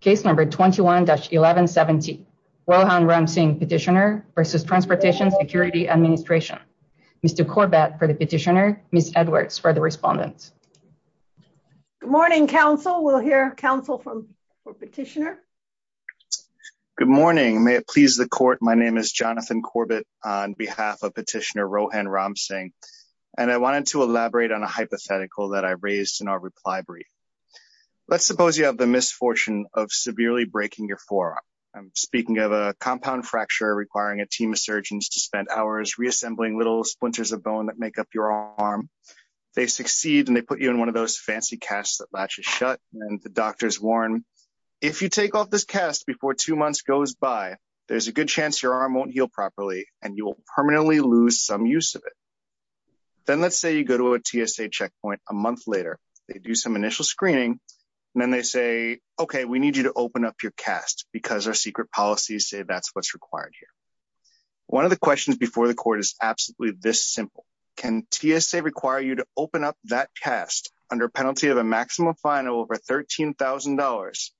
Case number 21-1117, Rohan Ramsingh petitioner versus Transportation Security Administration. Mr. Corbett for the petitioner, Ms. Edwards for the respondents. Good morning, counsel. We'll hear counsel for petitioner. Good morning. May it please the court. My name is Jonathan Corbett on behalf of petitioner Rohan Ramsingh. And I wanted to elaborate on a hypothetical that I raised in our reply brief. Let's suppose you have the misfortune of severely breaking your forearm. I'm speaking of a compound fracture requiring a team of surgeons to spend hours reassembling little splinters of bone that make up your arm. They succeed and they put you in one of those fancy casts that latches shut and the doctors warn, if you take off this cast before two months goes by, there's a good chance your arm won't heal properly and you will permanently lose some use of it. Then let's say you go to a TSA checkpoint a month later, they do some initial screening, and then they say, okay, we need you to open up your cast because our secret policies say that's what's required here. One of the questions before the court is absolutely this simple. Can TSA require you to open up that cast under penalty of a maximum fine of over $13,000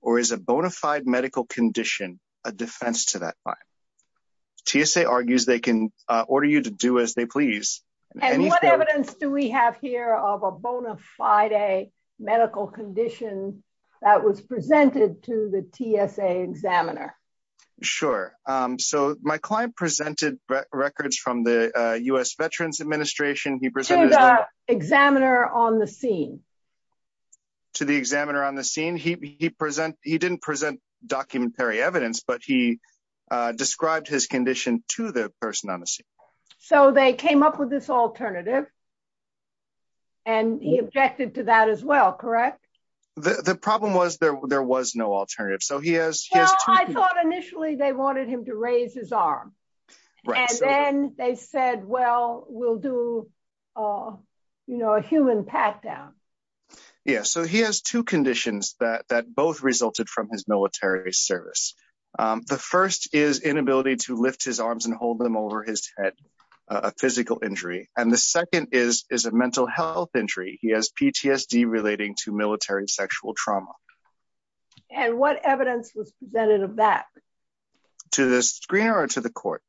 or is a bona fide medical condition a defense to that fine? TSA argues they can order you to do as they please. And what evidence do we have here of a bona fide medical condition that was presented to the TSA examiner? Sure, so my client presented records from the US Veterans Administration. He presented- To the examiner on the scene. To the examiner on the scene. He didn't present documentary evidence, but he described his condition to the person on the scene. So they came up with this alternative and he objected to that as well, correct? The problem was there was no alternative. So he has- Well, I thought initially they wanted him to raise his arm. And then they said, well, we'll do a human pat down. Yeah, so he has two conditions that both resulted from his military service. The first is inability to lift his arms and hold them over his head, a physical injury. And the second is a mental health injury. He has PTSD relating to military sexual trauma. And what evidence was presented of that? To the screener or to the court?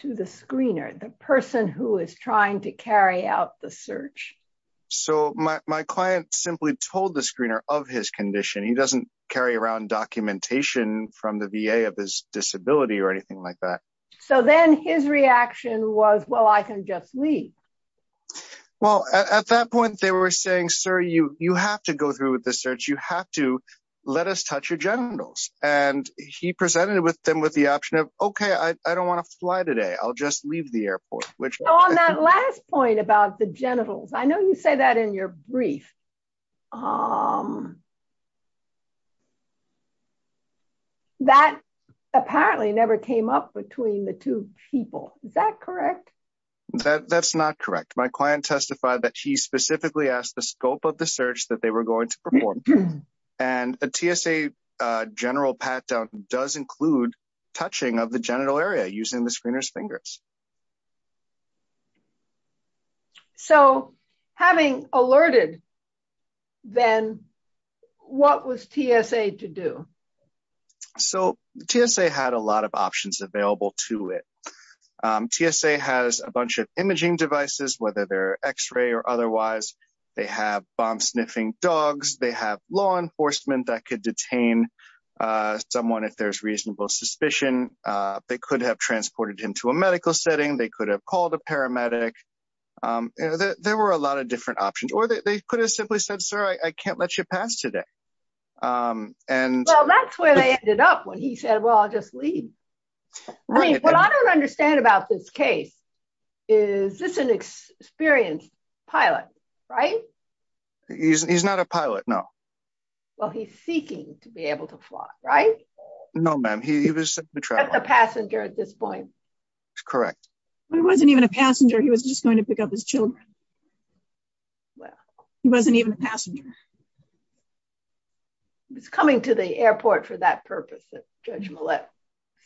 To the screener, the person who is trying to carry out the search. So my client simply told the screener of his condition. He doesn't carry around documentation from the VA of his disability or anything like that. So then his reaction was, well, I can just leave. Well, at that point they were saying, sir, you have to go through with the search. You have to let us touch your genitals. And he presented them with the option of, okay, I don't want to fly today. I'll just leave the airport. Which- On that last point about the genitals, I know you say that in your brief. That apparently never came up between the two people. Is that correct? That's not correct. My client testified that he specifically asked the scope of the search that they were going to perform. And a TSA general pat-down does include touching of the genital area using the screener's fingers. So having alerted, then what was TSA to do? So TSA had a lot of options available to it. TSA has a bunch of imaging devices, whether they're x-ray or otherwise. They have bomb sniffing dogs. They have law enforcement that could detain someone if there's reasonable suspicion. They could have transported him to a medical setting. They could have called a paramedic. There were a lot of different options. Or they could have simply said, sir, I can't let you pass today. And- And he ended up when he said, well, I'll just leave. I mean, what I don't understand about this case is this an experienced pilot, right? He's not a pilot, no. Well, he's seeking to be able to fly, right? No, ma'am. He was- That's a passenger at this point. Correct. He wasn't even a passenger. He was just going to pick up his children. Well, he wasn't even a passenger. He was coming to the airport for that purpose, as Judge Millett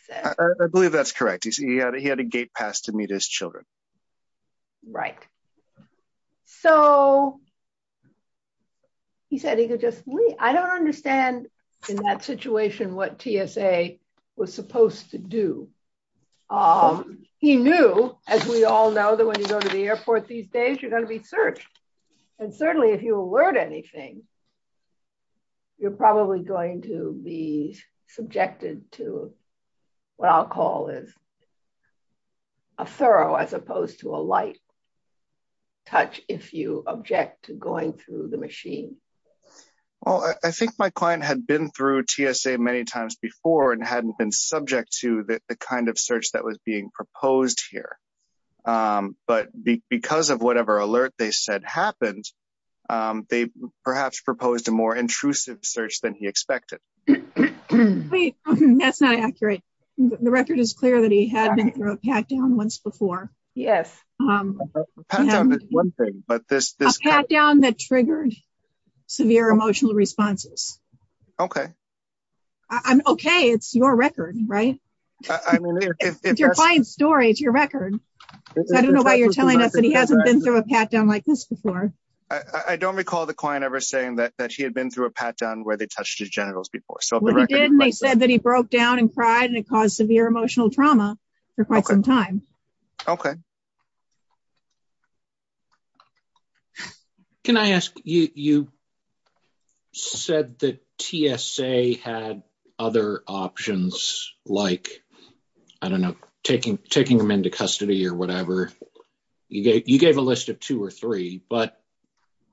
said. I believe that's correct. He had a gate pass to meet his children. Right. So he said he could just leave. I don't understand in that situation what TSA was supposed to do. He knew, as we all know, that when you go to the airport these days, you're going to be searched. And certainly if you alert anything, you're probably going to be subjected to what I'll call is a thorough, as opposed to a light touch, if you object to going through the machine. Well, I think my client had been through TSA many times before and hadn't been subject to the kind of search that was being proposed here. But because of whatever alert they said happened, they perhaps proposed a more intrusive search than he expected. Wait, that's not accurate. The record is clear that he had been through a pat-down once before. Yes. A pat-down that triggered severe emotional responses. Okay. I'm okay. It's your record, right? I mean, if- It's your client's story, it's your record. So I don't know why you're telling us that he hasn't been through a pat-down like this before. I don't recall the client ever saying that he had been through a pat-down where they touched his genitals before. So if the record- Well, they did, and they said that he broke down and cried and it caused severe emotional trauma for quite some time. Okay. Can I ask, you said that TSA had other options, like, I don't know, taking him into custody or whatever. You gave a list of two or three, but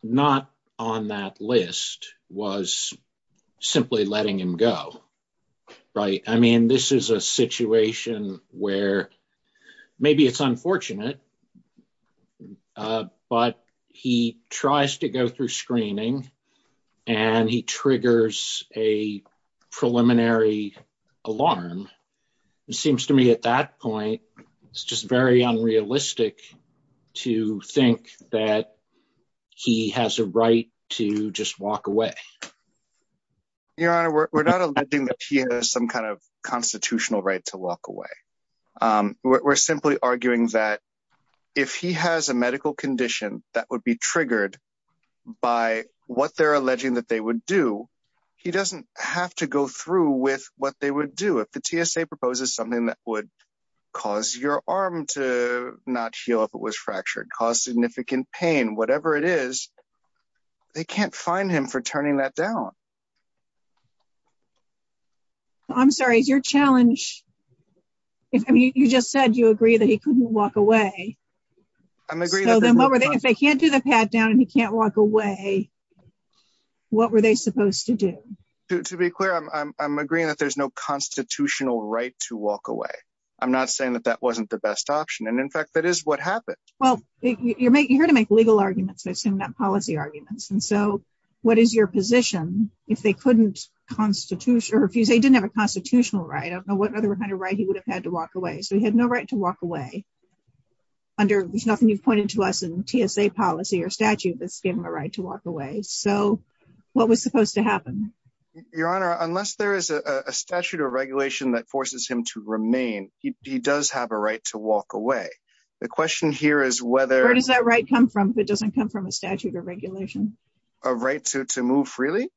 not on that list was simply letting him go, right? I mean, this is a situation where maybe it's unfortunate, but he tries to go through screening and he triggers a preliminary alarm. It seems to me at that point, it's just very unrealistic to think that he has a right to just walk away. Your Honor, we're not alleging that he has some kind of constitutional right to walk away. We're simply arguing that if he has a medical condition that would be triggered by what they're alleging that they would do, he doesn't have to go through with what they would do. If the TSA proposes something that would cause your arm to not heal if it was fractured, cause significant pain, whatever it is, they can't fine him for turning that down. I'm sorry, is your challenge, I mean, you just said you agree that he couldn't walk away. I'm agreeing- If they can't do the pad down and he can't walk away, what were they supposed to do? To be clear, I'm agreeing that there's no constitutional right to walk away. I'm not saying that that wasn't the best option. And in fact, that is what happened. Well, you're here to make legal arguments, not policy arguments. And so what is your position if they didn't have a constitutional right? I don't know what other kind of right he would have had to walk away. So he had no right to walk away under, there's nothing you've pointed to us in TSA policy or statute that's given him a right to walk away. So what was supposed to happen? Your Honor, unless there is a statute or regulation that forces him to remain, he does have a right to walk away. The question here is whether- Where does that right come from if it doesn't come from a statute or regulation? A right to move freely?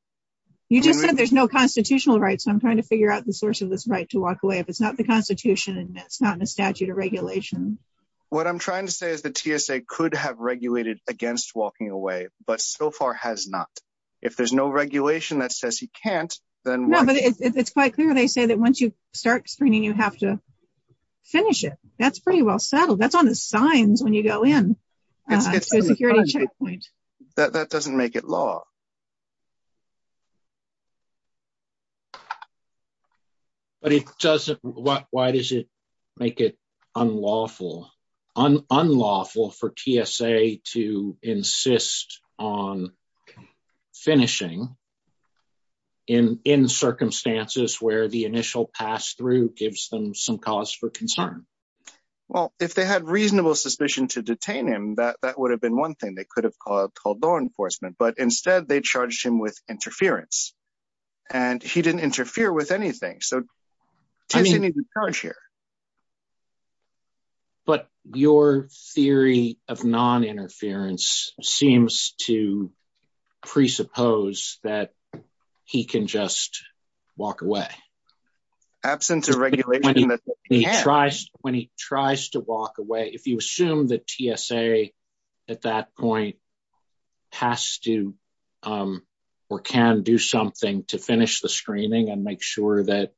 You just said there's no constitutional right. So I'm trying to figure out the source of this right to walk away. If it's not the constitution and it's not in a statute or regulation. What I'm trying to say is the TSA could have regulated against walking away, but so far has not. If there's no regulation that says he can't, then- No, but it's quite clear. They say that once you start screening, you have to finish it. That's pretty well settled. That's on the signs when you go in. It's a security checkpoint. That doesn't make it law. But it doesn't, why does it make it unlawful? Unlawful for TSA to insist on finishing in circumstances where the initial pass-through gives them some cause for concern. Well, if they had reasonable suspicion to detain him, that would have been one thing. They could have called law enforcement, but instead they charged him with interference and he didn't interfere with anything. So TSA needs to charge here. But your theory of non-interference seems to presuppose that he can just walk away. Absent a regulation that says he can't. When he tries to walk away, if you assume that TSA at that point has to or can do something to finish the screening and make sure that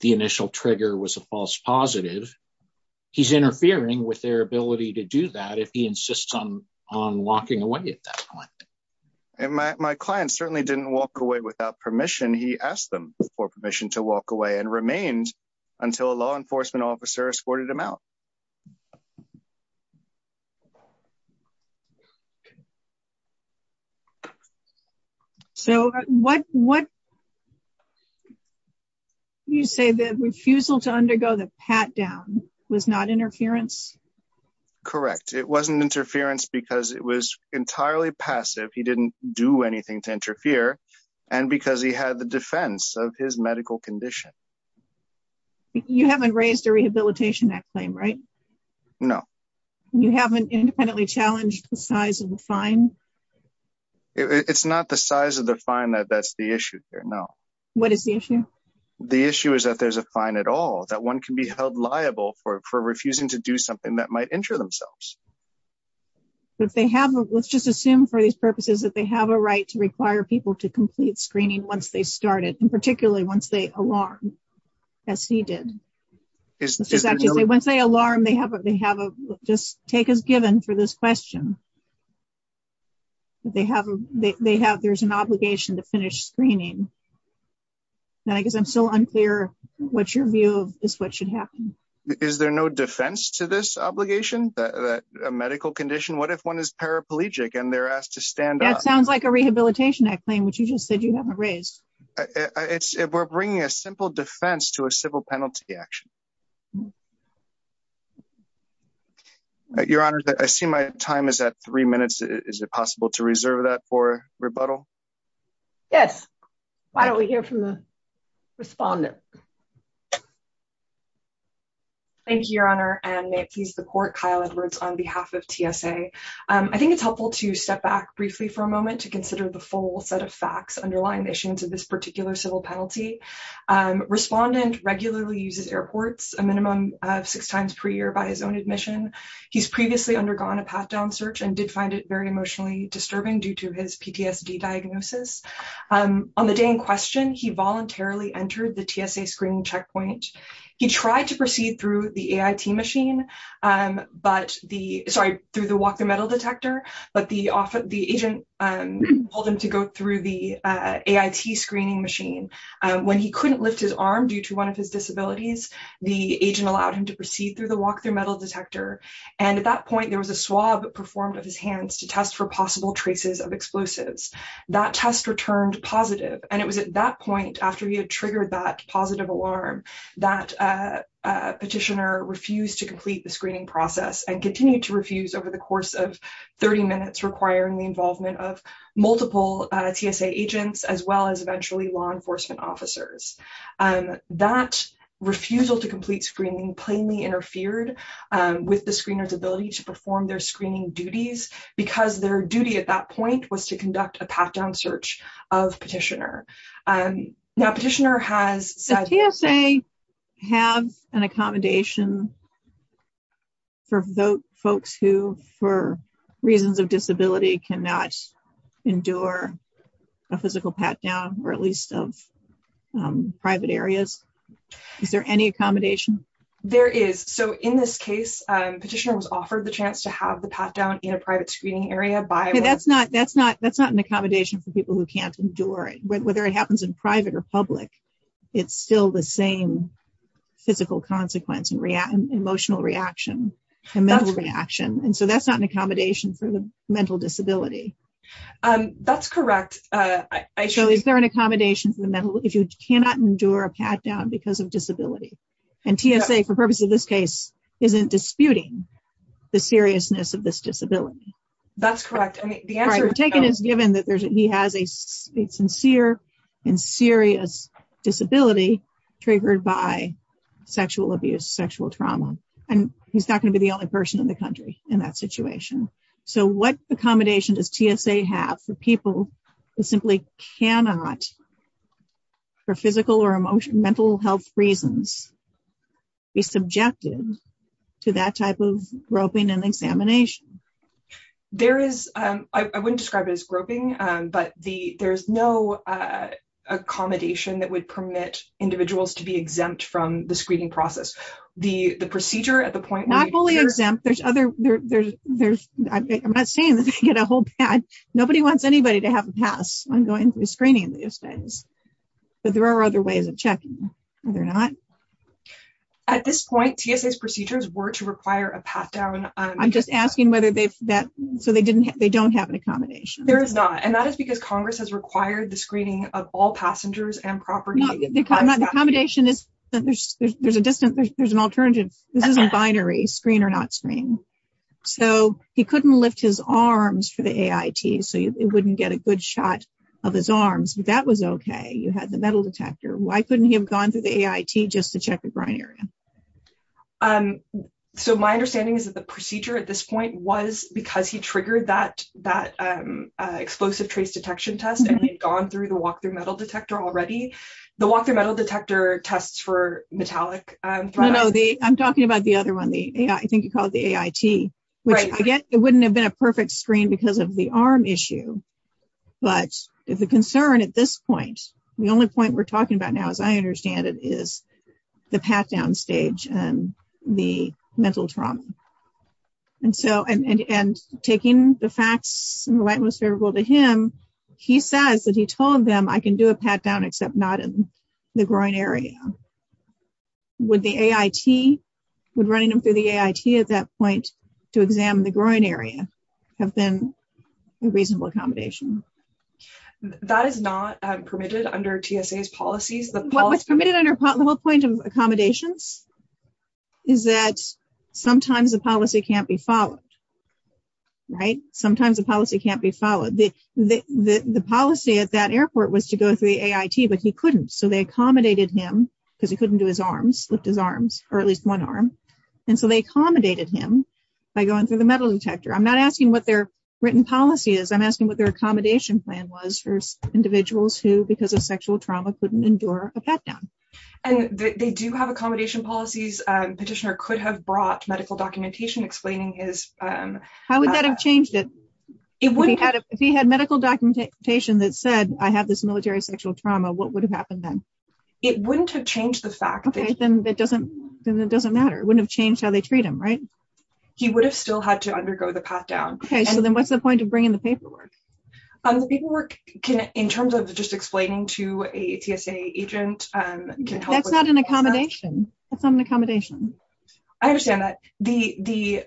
the initial trigger was a false positive, he's interfering with their ability to do that if he insists on walking away at that point. And my client certainly didn't walk away without permission. He asked them for permission to walk away and remained until a law enforcement officer escorted him out. Okay. So what you say that refusal to undergo the pat-down was not interference? Correct. It wasn't interference because it was entirely passive. He didn't do anything to interfere and because he had the defense of his medical condition. You haven't raised a rehabilitation claim, right? No. You haven't independently challenged the size of the fine? It's not the size of the fine that's the issue here, no. What is the issue? The issue is that there's a fine at all, that one can be held liable for refusing to do something that might injure themselves. But if they have, let's just assume for these purposes that they have a right to require people to complete screening once they start it and particularly once they alarm, as he did. Let's just say once they alarm, they have a, just take as given for this question. They have, there's an obligation to finish screening. Now, I guess I'm still unclear what's your view of this, what should happen? Is there no defense to this obligation, a medical condition? What if one is paraplegic and they're asked to stand up? That sounds like a rehabilitation claim which you just said you haven't raised. It's, we're bringing a simple defense to a civil penalty action. Your Honor, I see my time is at three minutes. Is it possible to reserve that for rebuttal? Yes. Why don't we hear from the respondent? Thank you, Your Honor. And may it please the court, Kyle Edwards on behalf of TSA. I think it's helpful to step back briefly for a moment to consider the full set of facts underlying the issues of this particular civil penalty. Respondent regularly uses airports, a minimum of six times per year by his own admission. He's previously undergone a path down search and did find it very emotionally disturbing due to his PTSD diagnosis. On the day in question, he voluntarily entered the TSA screening checkpoint. He tried to proceed through the AIT machine, but the, sorry, through the walk-through metal detector, but the agent told him to go through the AIT screening machine. When he couldn't lift his arm due to one of his disabilities, the agent allowed him to proceed through the walk-through metal detector. And at that point there was a swab performed of his hands to test for possible traces of explosives. That test returned positive. And it was at that point after he had triggered that positive alarm that petitioner refused to complete the screening process and continued to refuse over the course of 30 minutes requiring the involvement of multiple TSA agents, as well as eventually law enforcement officers. That refusal to complete screening plainly interfered with the screener's ability to perform their screening duties because their duty at that point was to conduct a path down search of petitioner. Now petitioner has said- Have an accommodation for folks who, for reasons of disability, cannot endure a physical pat down or at least of private areas. Is there any accommodation? There is. So in this case, petitioner was offered the chance to have the pat down in a private screening area by- That's not an accommodation for people who can't endure it. Whether it happens in private or public, it's still the same physical consequence and emotional reaction and mental reaction. And so that's not an accommodation for the mental disability. That's correct. I should- So is there an accommodation for the mental, if you cannot endure a pat down because of disability? And TSA, for purpose of this case, isn't disputing the seriousness of this disability. That's correct. I mean, the answer- He has a sincere and serious disability triggered by sexual abuse, sexual trauma, and he's not going to be the only person in the country in that situation. So what accommodation does TSA have for people who simply cannot, for physical or mental health reasons, be subjected to that type of groping and examination? There is, I wouldn't describe it as groping, but there's no accommodation that would permit individuals to be exempt from the screening process. The procedure at the point- Not fully exempt. I'm not saying that they get a whole pad. Nobody wants anybody to have a pass on going through screening these days. But there are other ways of checking. Are there not? At this point, TSA's procedures were to require a pat down- I'm just asking whether they've that, so they don't have an accommodation. There is not. And that is because Congress has required the screening of all passengers and property. The accommodation is, there's a distance, there's an alternative. This isn't binary, screen or not screen. So he couldn't lift his arms for the AIT, so it wouldn't get a good shot of his arms, but that was okay. You had the metal detector. Why couldn't he have gone through the AIT just to check the groin area? So my understanding is that the procedure at this point was because he triggered that explosive trace detection test and he'd gone through the walk-through metal detector already. The walk-through metal detector tests for metallic- No, no, I'm talking about the other one, the, I think you call it the AIT, which again, it wouldn't have been a perfect screen because of the arm issue. But if the concern at this point, the only point we're talking about now, as I understand it, is the pat-down stage and the mental trauma. And so, and taking the facts in the light most favorable to him, he says that he told them, I can do a pat-down except not in the groin area. Would the AIT, would running them through the AIT at that point to examine the groin area have been a reasonable accommodation? That is not permitted under TSA's policies. What's permitted under the whole point of accommodations is that sometimes the policy can't be followed, right? Sometimes the policy can't be followed. The policy at that airport was to go through the AIT, but he couldn't. So they accommodated him because he couldn't do his arms, lift his arms, or at least one arm. And so they accommodated him by going through the metal detector. I'm not asking what their written policy is. I'm asking what their accommodation plan was for individuals who, because of sexual trauma, couldn't endure a pat-down. And they do have accommodation policies. Petitioner could have brought medical documentation explaining his- How would that have changed it? It wouldn't- If he had medical documentation that said, I have this military sexual trauma, what would have happened then? It wouldn't have changed the fact that- Okay, then it doesn't matter. It wouldn't have changed how they treat him, right? He would have still had to undergo the pat-down. Okay, so then what's the point of bringing the paperwork? The paperwork can, in terms of just explaining to a TSA agent, can help with that. That's not an accommodation. That's not an accommodation. I understand that. The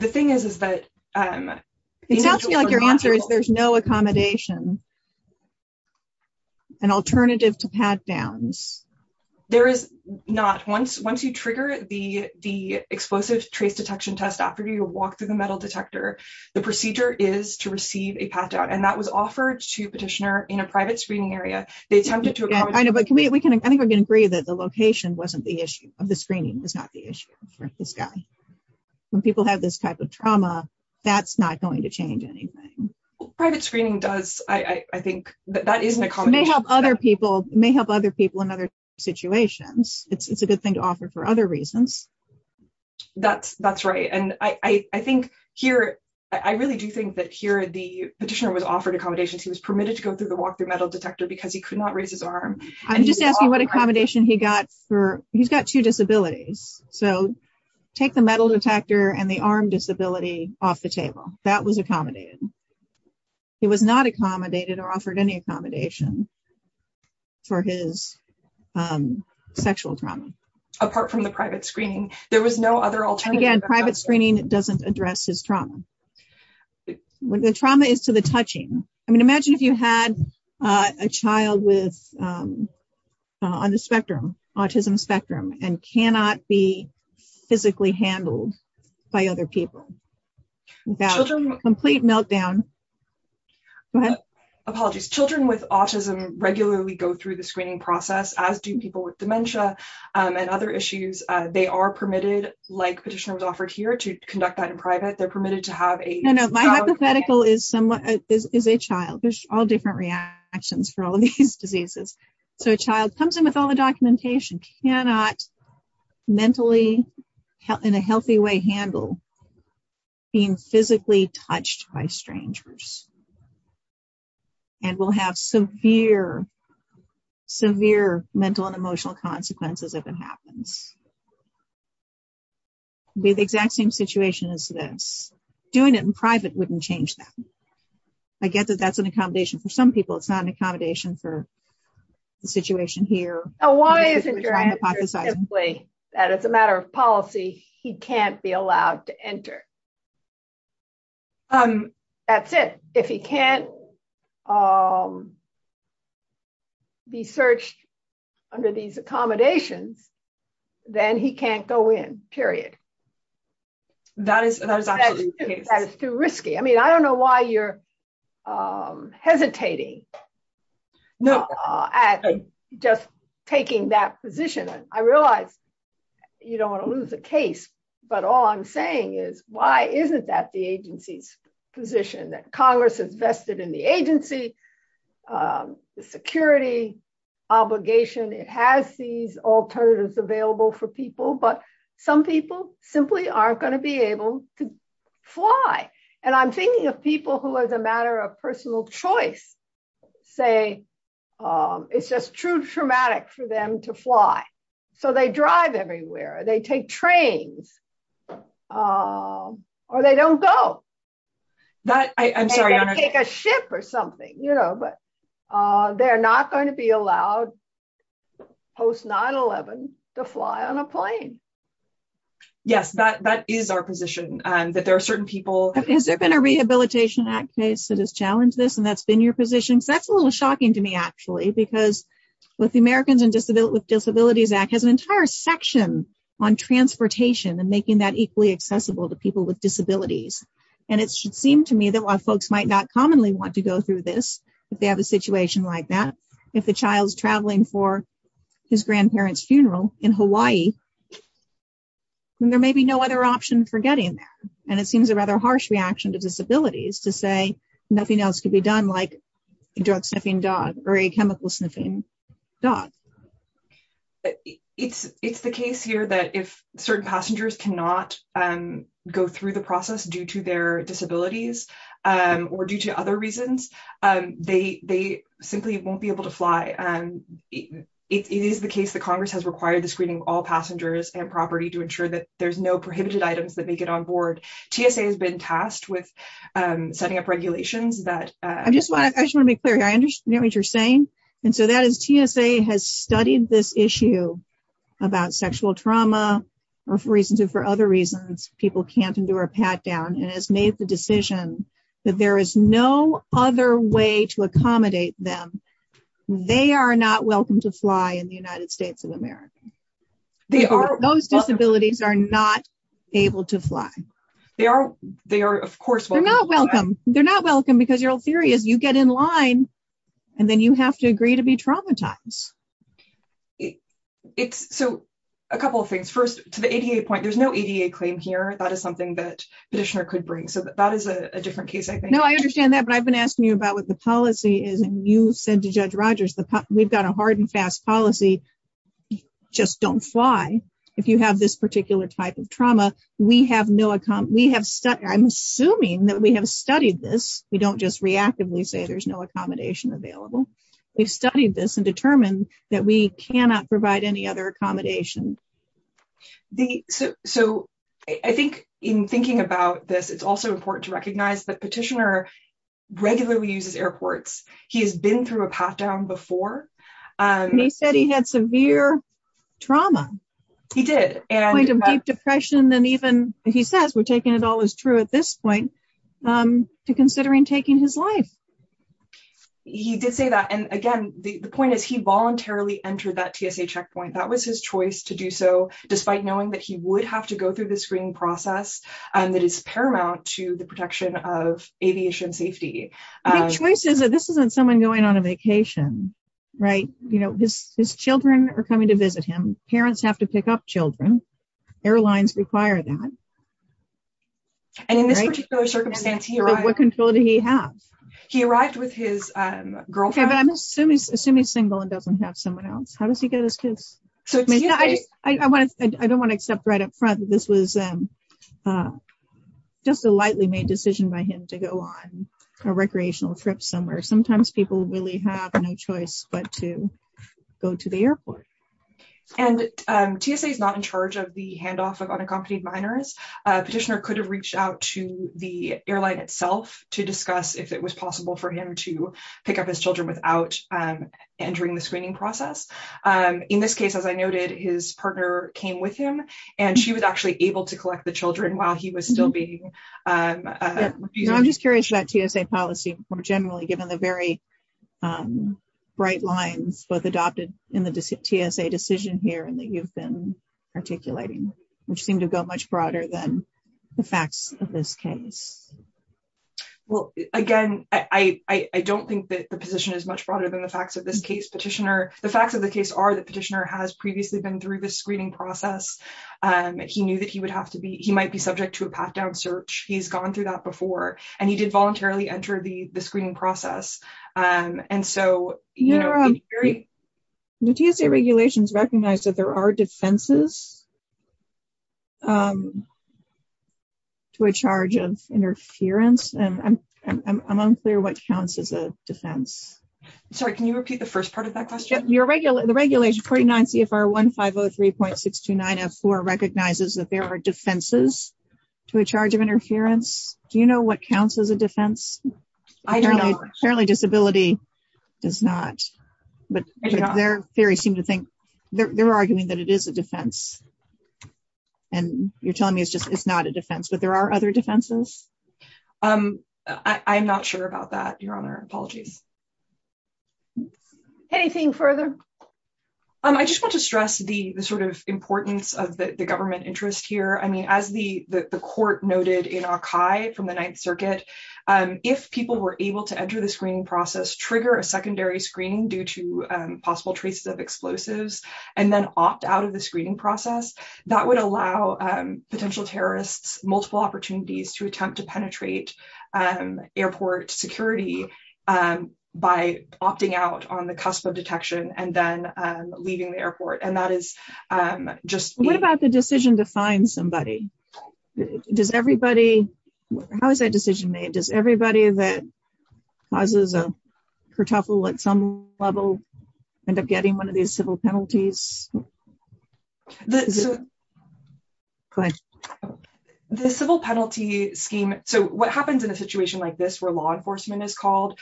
thing is, is that- It sounds to me like your answer is there's no accommodation, an alternative to pat-downs. There is not. Once you trigger the explosive trace detection test after you walk through the metal detector, the procedure is to receive a pat-down. And that was offered to petitioner in a private screening area. They attempted to accommodate- Yeah, I know, but can we, I think we can agree that the location wasn't the issue of the screening was not the issue for this guy. When people have this type of trauma, that's not going to change anything. Private screening does, I think, that is an accommodation. It may help other people in other situations. It's a good thing to offer for other reasons. That's right. And I think here, I really do think that here, the petitioner was offered accommodations. He was permitted to go through the walk-through metal detector because he could not raise his arm. I'm just asking what accommodation he got for, he's got two disabilities. So take the metal detector and the arm disability off the table. That was accommodated. He was not accommodated or offered any accommodation for his sexual trauma. Apart from the private screening, there was no other alternative. And again, private screening doesn't address his trauma. The trauma is to the touching. Imagine if you had a child on the spectrum, autism spectrum, and cannot be physically handled by other people without a complete meltdown. Apologies. Children with autism regularly go through the screening process, as do people with dementia and other issues. They are permitted, like petitioner was offered here, to conduct that in private. They're permitted to have a- No, no. My hypothetical is a child. There's all different reactions for all of these diseases. So a child comes in with all the documentation, cannot mentally, in a healthy way, handle being physically touched by strangers. And will have severe, severe mental and emotional consequences if it happens. Be the exact same situation as this. Doing it in private wouldn't change that. I get that that's an accommodation for some people. It's not an accommodation for the situation here. Oh, why isn't your answer simply that it's a matter of policy he can't be allowed to enter? That's it. If he can't be searched under these accommodations, then he can't go in, period. That is absolutely the case. That is too risky. I mean, I don't know why you're hesitating No. at just taking that position. I realize you don't want to lose the case, but all I'm saying is, why isn't that the agency's position? That Congress has vested in the agency the security obligation. It has these alternatives available for people, but some people simply aren't going to be able to fly. And I'm thinking of people who as a matter of personal choice, say it's just too traumatic for them to fly. So they drive everywhere. They take trains or they don't go. I'm sorry. They don't take a ship or something, but they're not going to be allowed post 9-11 to fly on a plane. Yes. That is our position that there are certain people. Has there been a Rehabilitation Act case that has challenged this and that's been your position? So that's a little shocking to me actually, because with the Americans with Disabilities Act has an entire section on transportation and making that equally accessible to people with disabilities. And it should seem to me that while folks might not commonly want to go through this, if they have a situation like that, if the child's traveling for his grandparents' funeral in Hawaii, then there may be no other option for getting there. And it seems a rather harsh reaction to disabilities to say nothing else could be done like a drug sniffing dog or a chemical sniffing dog. It's the case here that if certain passengers cannot go through the process due to their disabilities or due to other reasons, they simply won't be able to fly. It is the case that Congress has required the screening of all passengers and property to ensure that there's no prohibited items that they get on board. TSA has been tasked with setting up regulations that- I just want to be clear here. I understand what you're saying. And so that is TSA has studied this issue about sexual trauma or for reasons or for other reasons, people can't endure a pat down and has made the decision that there is no other way to accommodate them. They are not welcome to fly in the United States of America. Those disabilities are not able to fly. They are, of course- They're not welcome. They're not welcome because your whole theory is you get in line and then you have to agree to be traumatized. So a couple of things. First, to the ADA point, there's no ADA claim here. That is something that petitioner could bring. So that is a different case, I think. No, I understand that. But I've been asking you about what the policy is. And you said to Judge Rogers, we've got a hard and fast policy, just don't fly. If you have this particular type of trauma, we have no- I'm assuming that we have studied this. We don't just reactively say there's no accommodation available. We've studied this and determined that we cannot provide any other accommodation. So I think in thinking about this, it's also important to recognize that petitioner regularly uses airports. He has been through a path down before. He said he had severe trauma. He did. Point of deep depression, then even if he says we're taking it all as true at this point to considering taking his life. He did say that. And again, the point is he voluntarily entered that TSA checkpoint. That was his choice to do so, despite knowing that he would have to go through this screening process that is paramount to the protection of aviation safety. I think choice is that this isn't someone going on a vacation, right? You know, his children are coming to visit him. Parents have to pick up children. Airlines require that. And in this particular circumstance, he arrived- What control did he have? He arrived with his girlfriend. Okay, but I'm assuming he's single and doesn't have someone else. How does he get his kids? So I just, I don't want to accept right up front that this was just a lightly made decision by him to go on a recreational trip somewhere. Sometimes people really have no choice but to go to the airport. And TSA is not in charge of the handoff of unaccompanied minors. Petitioner could have reached out to the airline itself to discuss if it was possible for him to pick up his children without entering the screening process. In this case, as I noted, his partner came with him and she was actually able to collect the children while he was still being- I'm just curious about TSA policy more generally, given the very bright lines, both adopted in the TSA decision here and that you've been articulating, which seemed to go much broader than the facts of this case. Well, again, I don't think that the position is much broader than the facts of this case, Petitioner. The facts of the case are that Petitioner has previously been through the screening process. He knew that he might be subject to a path down search. He's gone through that before and he did voluntarily enter the screening process. Do TSA regulations recognize that there are defenses to a charge of interference? And I'm unclear what counts as a defense. Sorry, can you repeat the first part of that question? The regulation 49 CFR 1503.629F4 recognizes that there are defenses to a charge of interference. Do you know what counts as a defense? I don't know. Apparently disability does not, but their theory seemed to think, they're arguing that it is a defense. And you're telling me it's just, it's not a defense, but there are other defenses? I'm not sure about that, Your Honor. Apologies. Anything further? I just want to stress the sort of importance of the government interest here. I mean, as the court noted in our archive from the Ninth Circuit, if people were able to enter the screening process, trigger a secondary screening due to possible traces of explosives, and then opt out of the screening process, that would allow potential terrorists multiple opportunities to attempt to penetrate airport security by opting out on the cusp of detection and then leaving the airport. And that is just- What about the decision to find somebody? Does everybody, how is that decision made? Does everybody that causes a kertuffle at some level end up getting one of these civil penalties? Go ahead. The civil penalty scheme. So what happens in a situation like this where law enforcement is called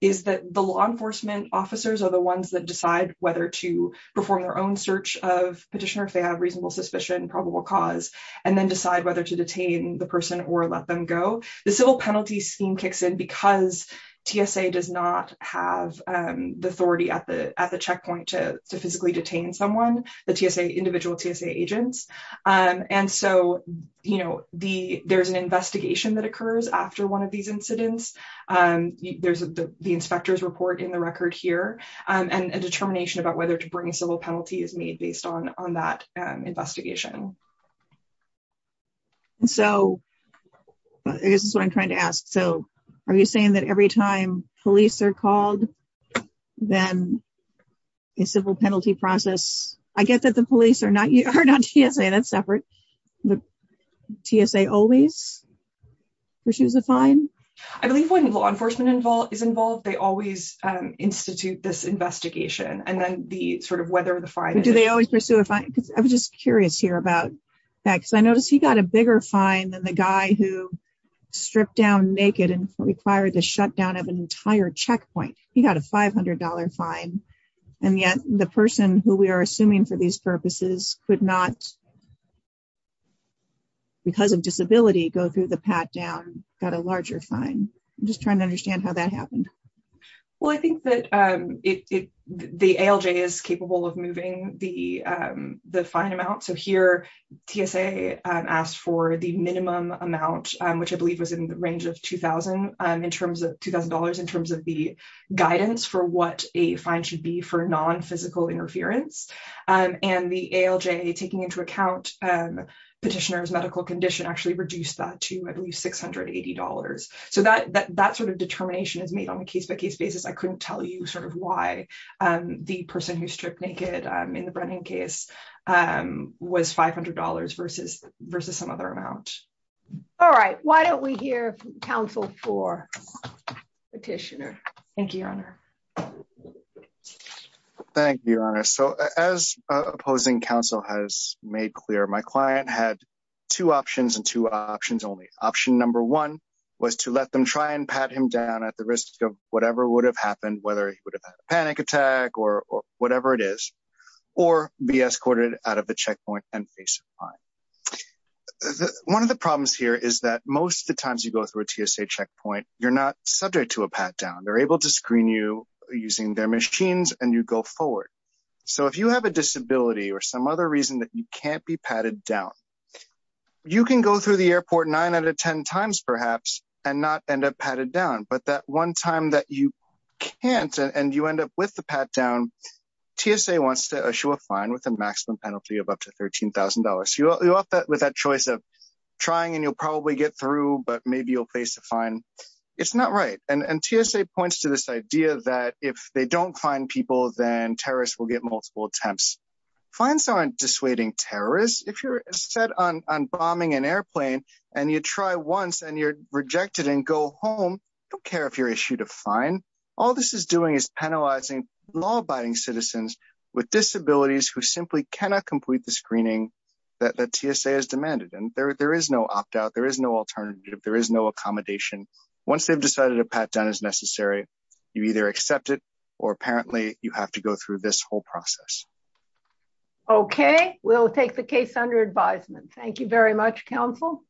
is that the law enforcement officers are the ones that decide whether to perform their own search of petitioner if they have reasonable suspicion, probable cause, and then decide whether to detain the person or let them go. The civil penalty scheme kicks in because TSA does not have the authority at the checkpoint to physically detain someone, the individual TSA agents. And so there's an investigation that occurs after one of these incidents. There's the inspector's report in the record here, and a determination about whether to bring a civil penalty is made based on that investigation. So this is what I'm trying to ask. So are you saying that every time police are called, then a civil penalty process- I get that the police are not TSA, that's separate, but TSA always pursues a fine? I believe when law enforcement is involved, they always institute this investigation. And then the sort of whether the fine- Do they always pursue a fine? I was just curious here about that, because I noticed he got a bigger fine than the guy who stripped down naked and required the shutdown of an entire checkpoint. He got a $500 fine. And yet the person who we are assuming for these purposes could not, because of disability, go through the pat-down, got a larger fine. I'm just trying to understand how that happened. Well, I think that the ALJ is capable of moving the fine amount. So here, TSA asked for the minimum amount, which I believe was in the range of $2,000 in terms of the guidance for what a fine should be for non-physical interference. And the ALJ, taking into account petitioner's medical condition, actually reduced that to, I believe, $680. So that sort of determination is made on a case-by-case basis. I couldn't tell you sort of why the person who stripped naked in the Brennan case was $500 versus some other amount. All right, why don't we hear from counsel for petitioner? Thank you, Your Honor. Thank you, Your Honor. So as opposing counsel has made clear, my client had two options and two options only. Option number one was to let them try and pat him down at the risk of whatever would have happened, whether he would have had a panic attack or whatever it is, or be escorted out of the checkpoint and face a fine. One of the problems here is that most of the times you go through a TSA checkpoint, you're not subject to a pat down. They're able to screen you using their machines and you go forward. So if you have a disability or some other reason that you can't be patted down, you can go through the airport nine out of 10 times, perhaps, and not end up patted down. But that one time that you can't and you end up with the pat down, TSA wants to issue a fine with a maximum penalty of up to $13,000. You're off with that choice of trying and you'll probably get through, but maybe you'll face a fine. It's not right. And TSA points to this idea that if they don't fine people, then terrorists will get multiple attempts. Fines aren't dissuading terrorists. If you're set on bombing an airplane and you try once and you're rejected and go home, don't care if you're issued a fine. All this is doing is penalizing law-abiding citizens with disabilities who simply cannot complete the screening that TSA has demanded. And there is no opt-out. There is no alternative. There is no accommodation. Once they've decided a pat down is necessary, you either accept it, or apparently you have to go through this whole process. Okay, we'll take the case under advisement. Thank you very much, counsel.